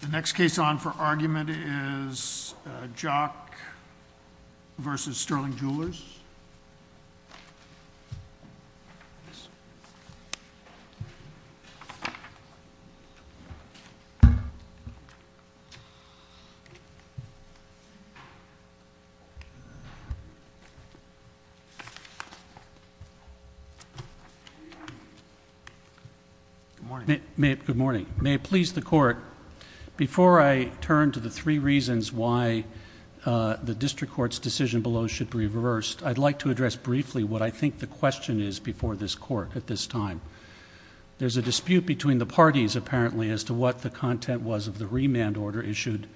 The next case on for argument is Jock v. Sterling Jewelers. Good morning. May it please the court, before I turn to the three reasons why the district court's decision below should be reversed, I'd like to address briefly what I think the question is before this court at this time. There's a dispute between the parties, apparently, as to what the content was of the remand order issued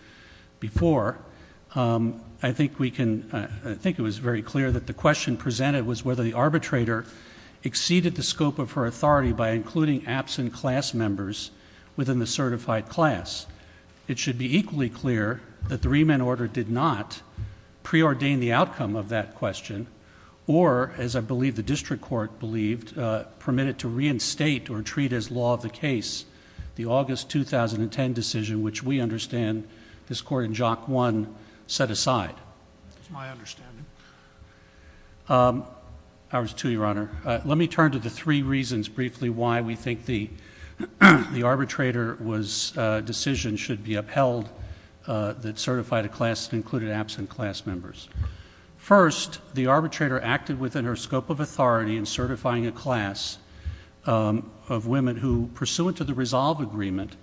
before. I think it was very clear that the question presented was whether the arbitrator exceeded the scope of her authority by including absent class members within the certified class. It should be equally clear that the remand order did not preordain the outcome of that question or, as I believe the district court believed, permit it to reinstate or treat as law of the case the August 2010 decision, which we understand this court in Jock 1 set aside. That's my understanding. Ours too, Your Honor. Let me turn to the three reasons briefly why we think the arbitrator's decision should be upheld that certified a class that included absent class members. First, the arbitrator acted within her scope of authority in certifying a class of women who, pursuant to the resolve agreement,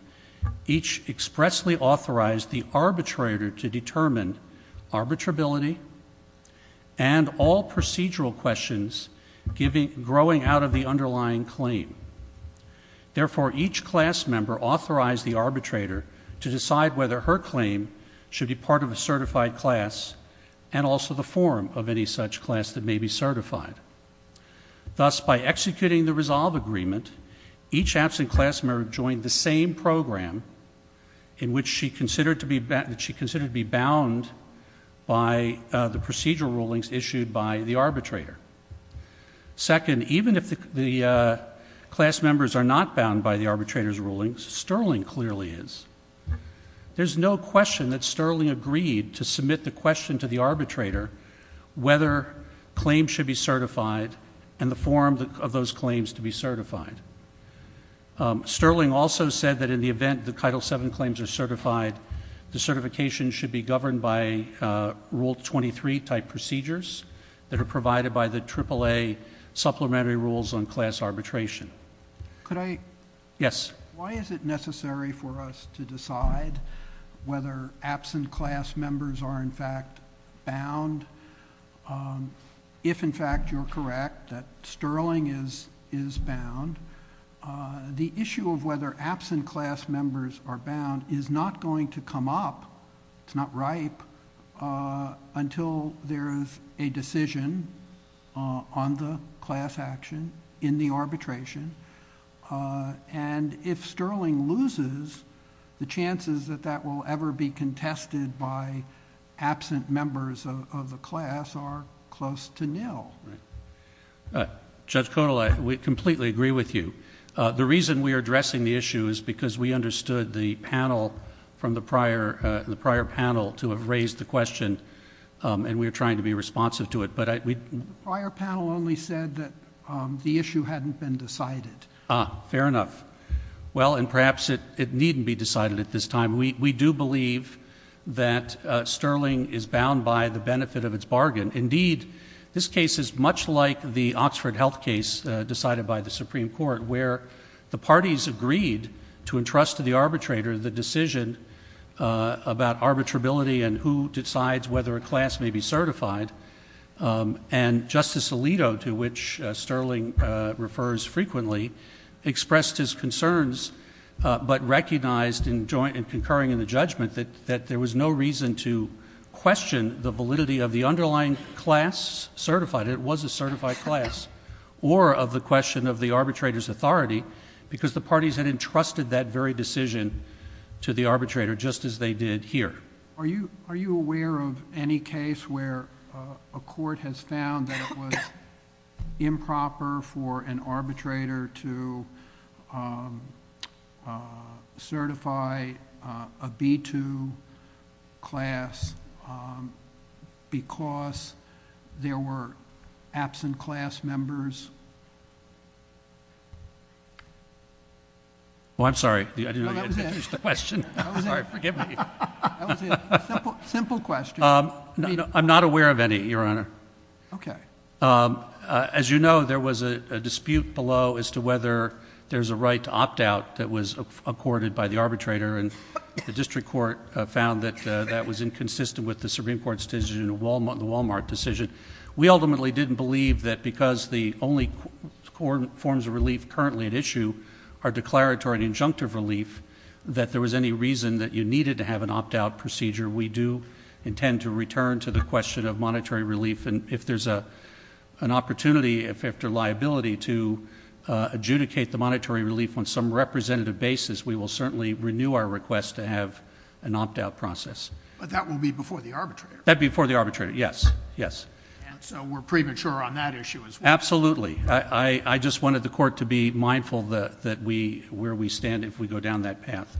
each expressly authorized the arbitrator to determine arbitrability and all procedural questions growing out of the underlying claim. Therefore, each class member authorized the arbitrator to decide whether her claim should be part of a certified class and also the form of any such class that may be certified. Thus, by executing the resolve agreement, each absent class member joined the same program in which she considered to be bound by the procedural rulings issued by the arbitrator. Second, even if the class members are not bound by the arbitrator's rulings, Sterling clearly is. There's no question that Sterling agreed to submit the question to the arbitrator whether claims should be certified and the form of those claims to be certified. Sterling also said that in the event that Title VII claims are certified, the certification should be governed by Rule 23 type procedures that are provided by the AAA supplementary rules on class arbitration. Could I? Yes. Why is it necessary for us to decide whether absent class members are in fact bound? If, in fact, you're correct that Sterling is bound, the issue of whether absent class members are bound is not going to come up, it's not ripe, until there is a decision on the class action in the arbitration. If Sterling loses, the chances that that will ever be contested by absent members of the class are close to nil. Judge Codall, I completely agree with you. The reason we're addressing the issue is because we understood the panel from the prior panel to have raised the question and we're trying to be responsive to it, but I... The prior panel only said that the issue hadn't been decided. Fair enough. Well, and perhaps it needn't be decided at this time. We do believe that Sterling is bound by the benefit of its bargain. Indeed, this case is much like the Oxford Health case decided by the Supreme Court where the parties agreed to entrust to the arbitrator the decision about arbitrability and who decides whether a class may be certified. And Justice Alito, to which Sterling refers frequently, expressed his concerns but recognized in concurring in the judgment that there was no reason to question the validity of the underlying class certified, it was a certified class, or of the question of the arbitrator's authority because the parties had entrusted that very decision to the arbitrator just as they did here. Are you aware of any case where a court has found that it was improper for an arbitrator to certify a B-2 class because there were absent class members? Well, I'm sorry. I didn't know you had finished the question. I'm sorry. Forgive me. That was it. Simple question. I'm not aware of any, Your Honor. Okay. As you know, there was a dispute below as to whether there's a right to opt-out that was accorded by the arbitrator and the district court found that that was inconsistent with the Supreme Court's decision, the Walmart decision. We ultimately didn't believe that because the only forms of relief currently at issue are declaratory and injunctive relief, that there was any reason that you needed to have an opt-out procedure. We do intend to return to the question of monetary relief. If there's an opportunity, if there's a liability to adjudicate the monetary relief on some representative basis, we will certainly renew our request to have an opt-out process. That will be before the arbitrator? That will be before the arbitrator, yes. We're premature on that issue as well? Absolutely. I just wanted the court to be mindful where we stand if we go down that path.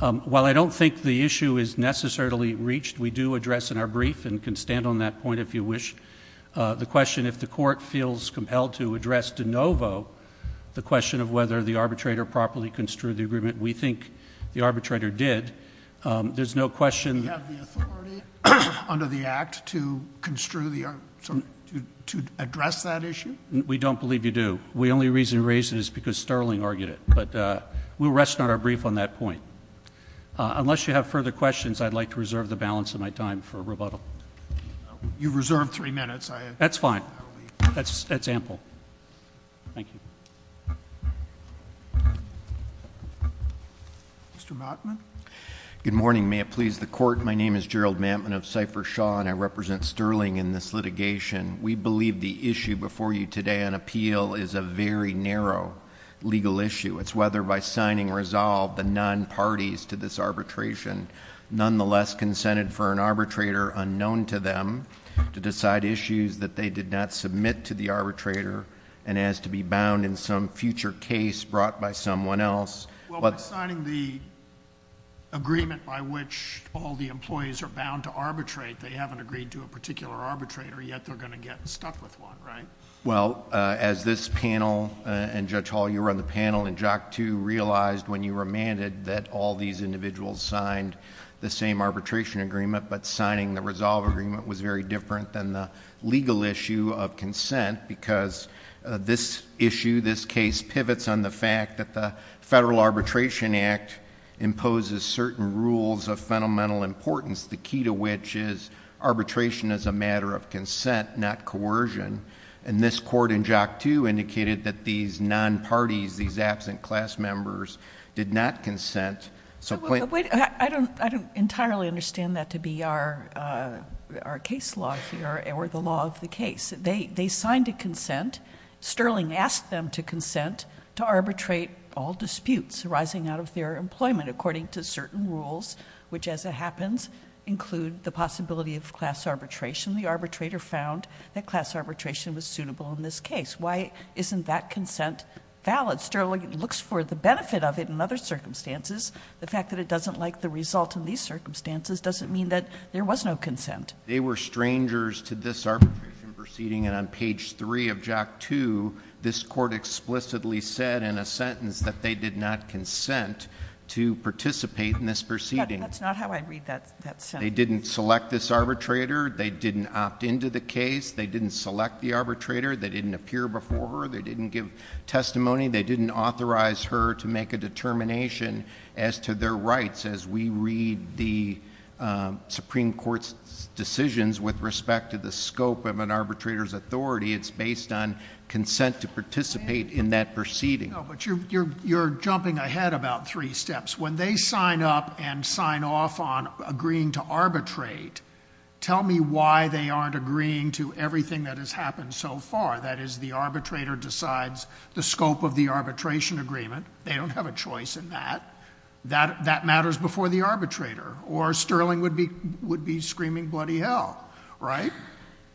While I don't think the issue is necessarily reached, we do address in our brief and can stand on that point if you wish, the question if the court feels compelled to address de novo, the question of whether the arbitrator properly construed the agreement. We think the arbitrator did. There's no question... Do you have the authority under the Act to address that issue? We don't believe you do. The only reason we raise it is because Sterling argued it, but we'll rest on our brief on that point. Unless you have further questions, I'd like to reserve the balance of my time for rebuttal. You've reserved three minutes. That's fine. That's ample. Thank you. Mr. Matman? Good morning. May it please the Court? My name is Gerald Matman of Cipher Shaw, and I represent Sterling in this litigation. We believe the issue before you today on appeal is a very narrow legal issue. It's whether by signing resolve, the non-parties to this arbitration nonetheless consented for an arbitrator unknown to them to decide issues that they did not submit to the arbitrator and as to be bound in some future case brought by someone else... By signing the agreement by which all the employees are bound to arbitrate, they haven't agreed to a particular arbitrator, yet they're going to get stuck with one, right? Well, as this panel and Judge Hall, you were on the panel in JOC 2, realized when you remanded that all these individuals signed the same arbitration agreement, but signing the resolve agreement was very different than the legal issue of consent because this issue, this case, pivots on the fact that the Federal Arbitration Act imposes certain rules of fundamental importance, the and this court in JOC 2 indicated that these non-parties, these absent class members did not consent... I don't entirely understand that to be our case law here or the law of the case. They signed a consent. Sterling asked them to consent to arbitrate all disputes arising out of their employment according to certain rules, which as it happens, include the possibility of class arbitration. The arbitrator found that class arbitration was suitable in this case. Why isn't that consent valid? Sterling looks for the benefit of it in other circumstances. The fact that it doesn't like the result in these circumstances doesn't mean that there was no consent. They were strangers to this arbitration proceeding and on page 3 of JOC 2, this court explicitly said in a sentence that they did not consent to participate in this proceeding. That's not how I read that sentence. They didn't select this arbitrator. They didn't opt into the case. They didn't select the arbitrator. They didn't appear before her. They didn't give testimony. They didn't authorize her to make a determination as to their rights as we read the Supreme Court's decisions with respect to the scope of an arbitrator's authority. It's based on consent to participate in that proceeding. No, but you're jumping ahead about three steps. When they sign up and sign off on agreeing to arbitrate, tell me why they aren't agreeing to everything that has happened so far. That is, the arbitrator decides the scope of the arbitration agreement. They don't have a choice in that. That matters before the arbitrator or Sterling would be screaming bloody hell, right?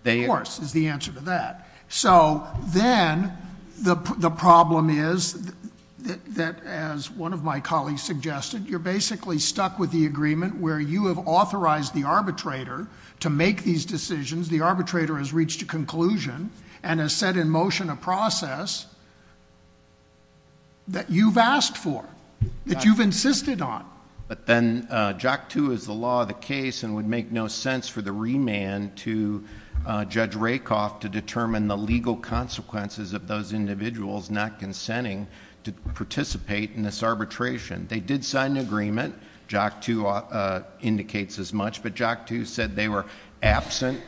Of course, is the answer to that. So then, the problem is that, as one of my colleagues suggested, you're basically stuck with the agreement where you have authorized the arbitrator to make these decisions. The arbitrator has reached a conclusion and has set in motion a process that you've asked for, that you've insisted on. But then, JAC-2 is the law of the case and would make no sense for the remand to Judge Rakoff to determine the legal consequences of those individuals not consenting to participate in this arbitration. They did sign an agreement. JAC-2 indicates as much, but JAC-2 said they were absent,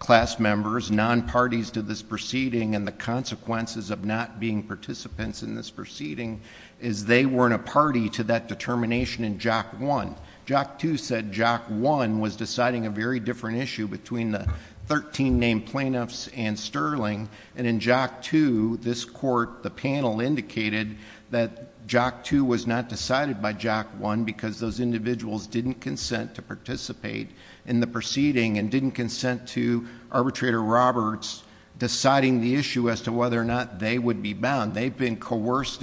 class members, non-parties to this proceeding, and the consequences of not being participants in this proceeding is they weren't a party to that determination in JAC-1. JAC-2 said JAC-1 was deciding a very different issue between the thirteen named plaintiffs and Sterling, and in JAC-2, this court, the panel indicated that JAC-2 was not decided by JAC-1 because those individuals didn't consent to participate in the proceeding and didn't consent to Arbitrator Roberts deciding the issue as to whether or not they would be bound. So, there's a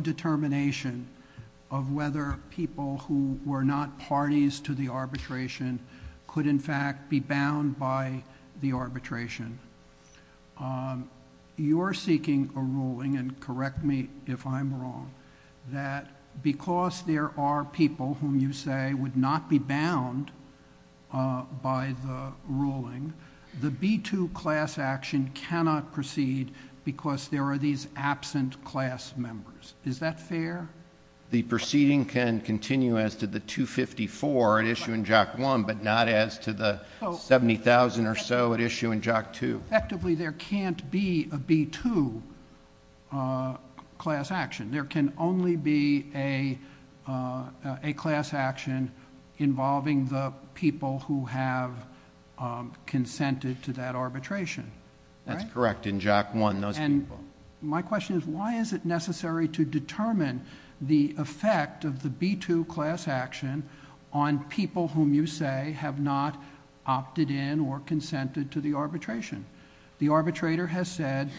determination of whether people who were not parties to the arbitration could in fact be bound by the arbitration. You're seeking a ruling, and correct me if I'm wrong, that because there are people whom you say would not be bound by the ruling, the B-2 class action cannot proceed because there are these absent class members. Is that fair? The proceeding can continue as to the 254 at issue in JAC-1, but not as to the 70,000 or so at issue in JAC-2. Effectively, there can't be a B-2 class action. There can only be a class action involving the people who have consented to that arbitration. That's correct. In JAC-1, those people. My question is, why is it necessary to determine the effect of the B-2 class action on people whom you say have not opted in or consented to the arbitration? The arbitrator has said,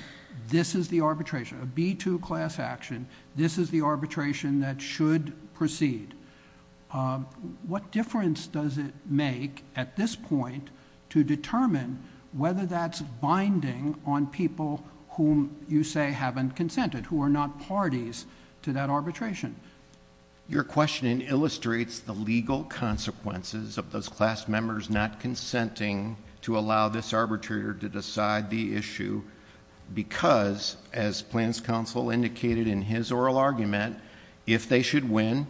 this is the arbitration, a B-2 class action. This is the arbitration that should proceed. What difference does it make at this point to determine whether that's binding on people whom you say haven't consented, who are not parties to that arbitration? Your question illustrates the legal consequences of those class members not consenting to allow this arbitrator to decide the issue because, as Plans Counsel indicated in his oral argument, if they should win,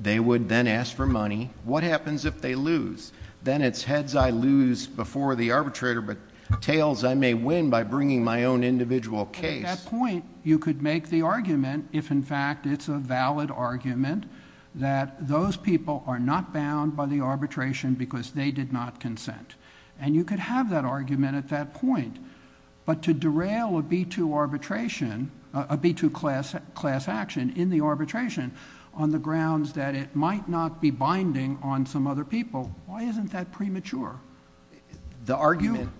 they would then ask for money. What happens if they lose? Then it's heads I lose before the arbitrator, but tails I may win by bringing my own individual case. At that point, you could make the argument, if in fact it's a valid argument, that those people are not bound by the arbitration because they did not consent. And you could have that argument at that point. But to derail a B-2 arbitration, a B-2 class action in the arbitration on the grounds that it might not be binding on some other people, why isn't that premature? The argument-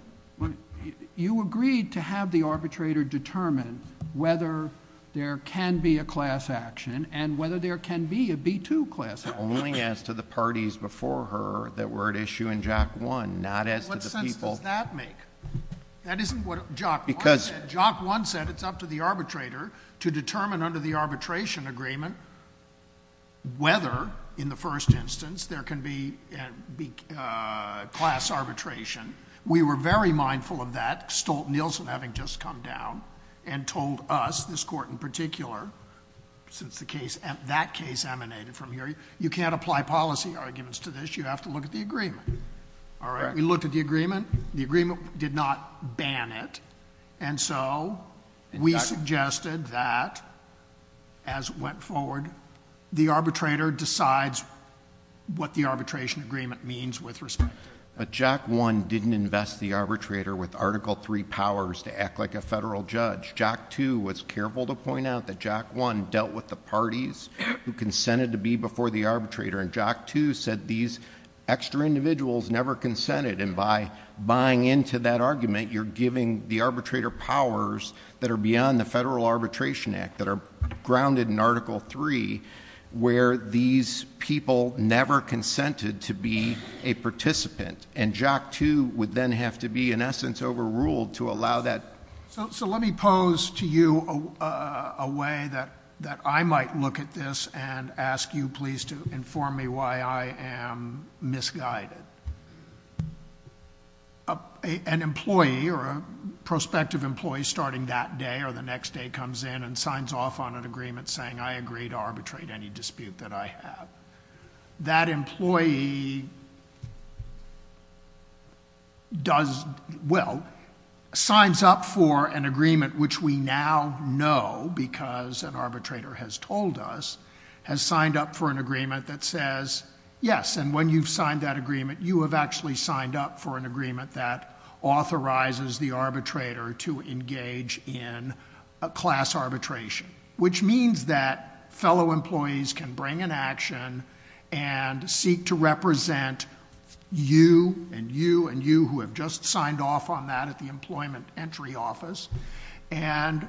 You agreed to have the arbitrator determine whether there can be a class action and whether there can be a B-2 class action. Only as to the parties before her that were at issue in JOC 1, not as to the people- What sense does that make? That isn't what JOC 1 said. It said it's up to the arbitrator to determine under the arbitration agreement whether, in the first instance, there can be class arbitration. We were very mindful of that, Stolt-Nielsen having just come down and told us, this court in particular, since that case emanated from here, you can't apply policy arguments to this, you have to look at the agreement. All right, we looked at the agreement. The agreement did not ban it. And so, we suggested that, as it went forward, the arbitrator decides what the arbitration agreement means with respect to it. But JOC 1 didn't invest the arbitrator with Article III powers to act like a federal judge. JOC 2 was careful to point out that JOC 1 dealt with the parties who consented to be before the arbitrator. And JOC 2 said these extra individuals never consented. And by buying into that argument, you're giving the arbitrator powers that are beyond the Federal Arbitration Act that are grounded in Article III, where these people never consented to be a participant. And JOC 2 would then have to be, in essence, overruled to allow that. So let me pose to you a way that I might look at this and ask you please to inform me why I am misguided. An employee or a prospective employee starting that day or the next day comes in and signs off on an agreement saying I agree to arbitrate any dispute that I have. That employee does, well, signs up for an agreement which we now know because an arbitrator has told us. Has signed up for an agreement that says, yes, and when you've signed that agreement, you have actually signed up for an agreement that authorizes the arbitrator to engage in a class arbitration. Which means that fellow employees can bring an action and seek to represent you and you and you who have just signed off on that at the employment entry office. And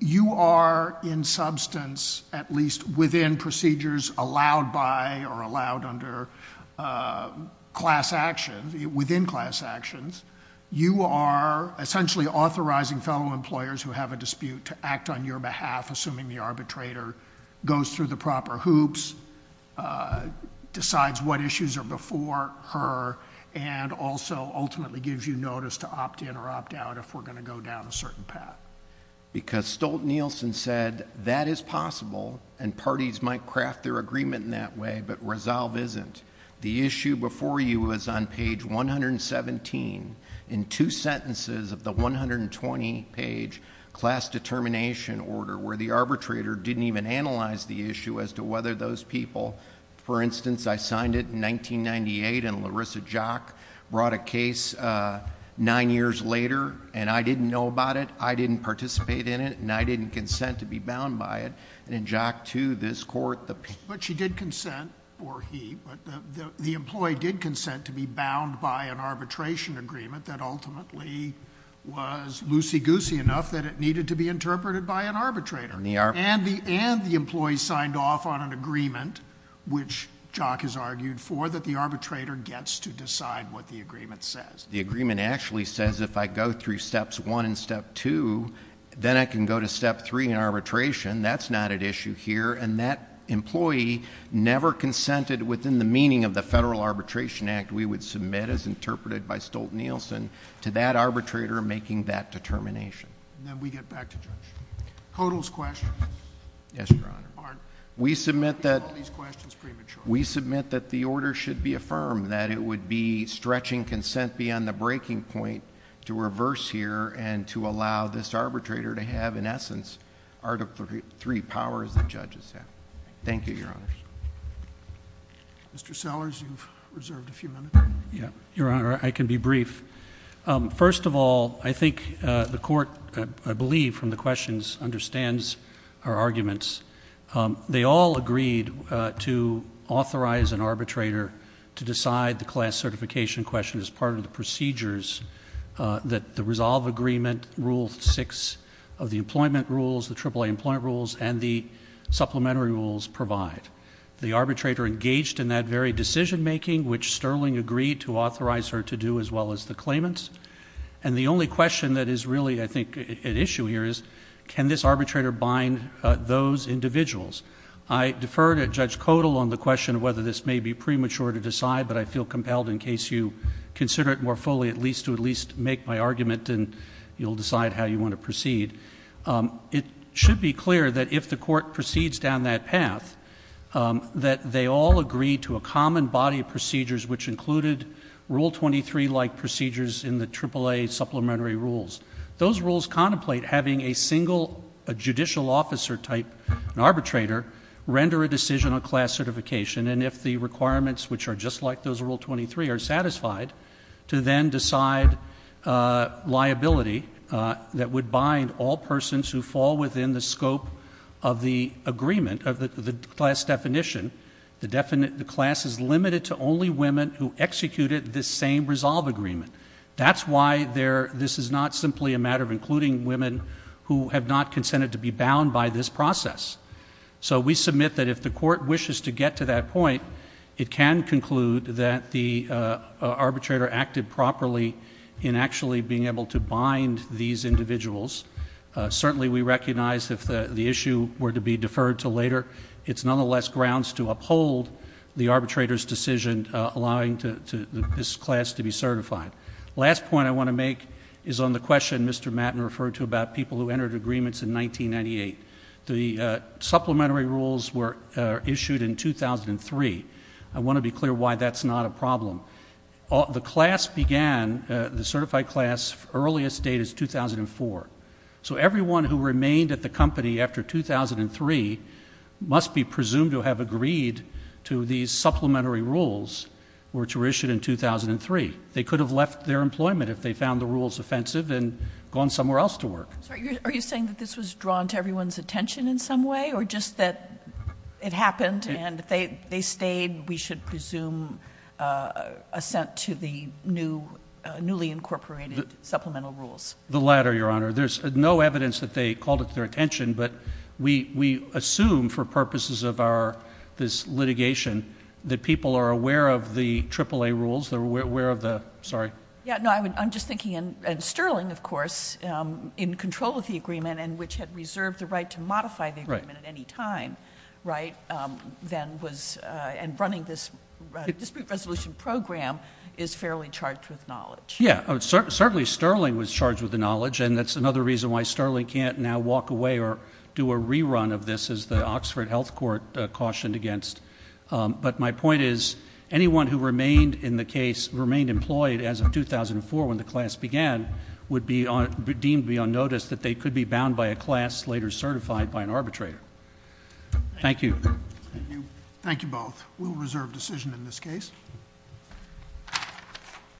you are in substance, at least within procedures allowed by or allowed under class actions, within class actions. You are essentially authorizing fellow employers who have a dispute to act on your behalf, assuming the arbitrator goes through the proper hoops, decides what issues are before her. And also ultimately gives you notice to opt in or opt out if we're going to go down a certain path. Because Stolt-Nielsen said that is possible and parties might craft their agreement in that way, but resolve isn't. The issue before you is on page 117 in two sentences of the 120 page class determination order where the arbitrator didn't even analyze the issue as to whether those people. For instance, I signed it in 1998 and Larissa Jock brought a case nine years later and I didn't know about it. I didn't participate in it and I didn't consent to be bound by it and Jock to this court. But she did consent, or he, but the employee did consent to be bound by an arbitration agreement that ultimately was loosey-goosey enough that it needed to be interpreted by an arbitrator. And the employee signed off on an agreement, which Jock has argued for, that the arbitrator gets to decide what the agreement says. The agreement actually says if I go through steps one and step two, then I can go to step three in arbitration. That's not at issue here. And that employee never consented within the meaning of the Federal Arbitration Act. We would submit as interpreted by Stolt-Nielsen to that arbitrator making that determination. And then we get back to judge. Hodel's question. Yes, your honor. We submit that- All these questions premature. We submit that the order should be affirmed. That it would be stretching consent beyond the breaking point to reverse here and to allow this arbitrator to have, in essence, Article III powers that judges have. Thank you, your honors. Mr. Sellers, you've reserved a few minutes. Yeah, your honor, I can be brief. First of all, I think the court, I believe from the questions, understands our arguments. They all agreed to authorize an arbitrator to decide the class certification question as part of the procedures that the resolve agreement rule six of the employment rules, the AAA employment rules, and the supplementary rules provide. The arbitrator engaged in that very decision making, which Sterling agreed to authorize her to do as well as the claimants. And the only question that is really, I think, at issue here is, can this arbitrator bind those individuals? I defer to Judge Codal on the question of whether this may be premature to decide, but I feel compelled in case you consider it more fully, at least to at least make my argument and you'll decide how you want to proceed. It should be clear that if the court proceeds down that path, that they all agree to a common body of procedures, which included rule 23-like procedures in the AAA supplementary rules. Those rules contemplate having a single judicial officer type, an arbitrator, render a decision on class certification. And if the requirements, which are just like those of rule 23, are satisfied, to then decide liability that would bind all persons who fall within the scope of the agreement, of the class definition. The class is limited to only women who executed this same resolve agreement. That's why this is not simply a matter of including women who have not consented to be bound by this process. So we submit that if the court wishes to get to that point, it can conclude that the arbitrator acted properly in actually being able to bind these individuals. Certainly, we recognize if the issue were to be deferred to later, it's nonetheless grounds to uphold the arbitrator's decision allowing this class to be certified. Last point I want to make is on the question Mr. Matten referred to about people who entered agreements in 1998. The supplementary rules were issued in 2003. I want to be clear why that's not a problem. The class began, the certified class, earliest date is 2004. So everyone who remained at the company after 2003 must be presumed to have agreed to these supplementary rules which were issued in 2003. They could have left their employment if they found the rules offensive and gone somewhere else to work. Are you saying that this was drawn to everyone's attention in some way, or just that it happened and if they stayed, we should presume assent to the newly incorporated supplemental rules? The latter, Your Honor. There's no evidence that they called it to their attention, but we assume for purposes of our, this litigation, that people are aware of the triple A rules. They're aware of the, sorry. Yeah, no, I'm just thinking, and Sterling, of course, in control of the agreement and which had reserved the right to modify the agreement at any time, right? Then was, and running this dispute resolution program is fairly charged with knowledge. Yeah, certainly Sterling was charged with the knowledge, and that's another reason why Sterling can't now walk away or do a rerun of this as the Oxford Health Court cautioned against. But my point is, anyone who remained in the case, remained employed as of 2004 when the class began, would be deemed beyond notice that they could be bound by a class later certified by an arbitrator. Thank you. Thank you both. We'll reserve decision in this case.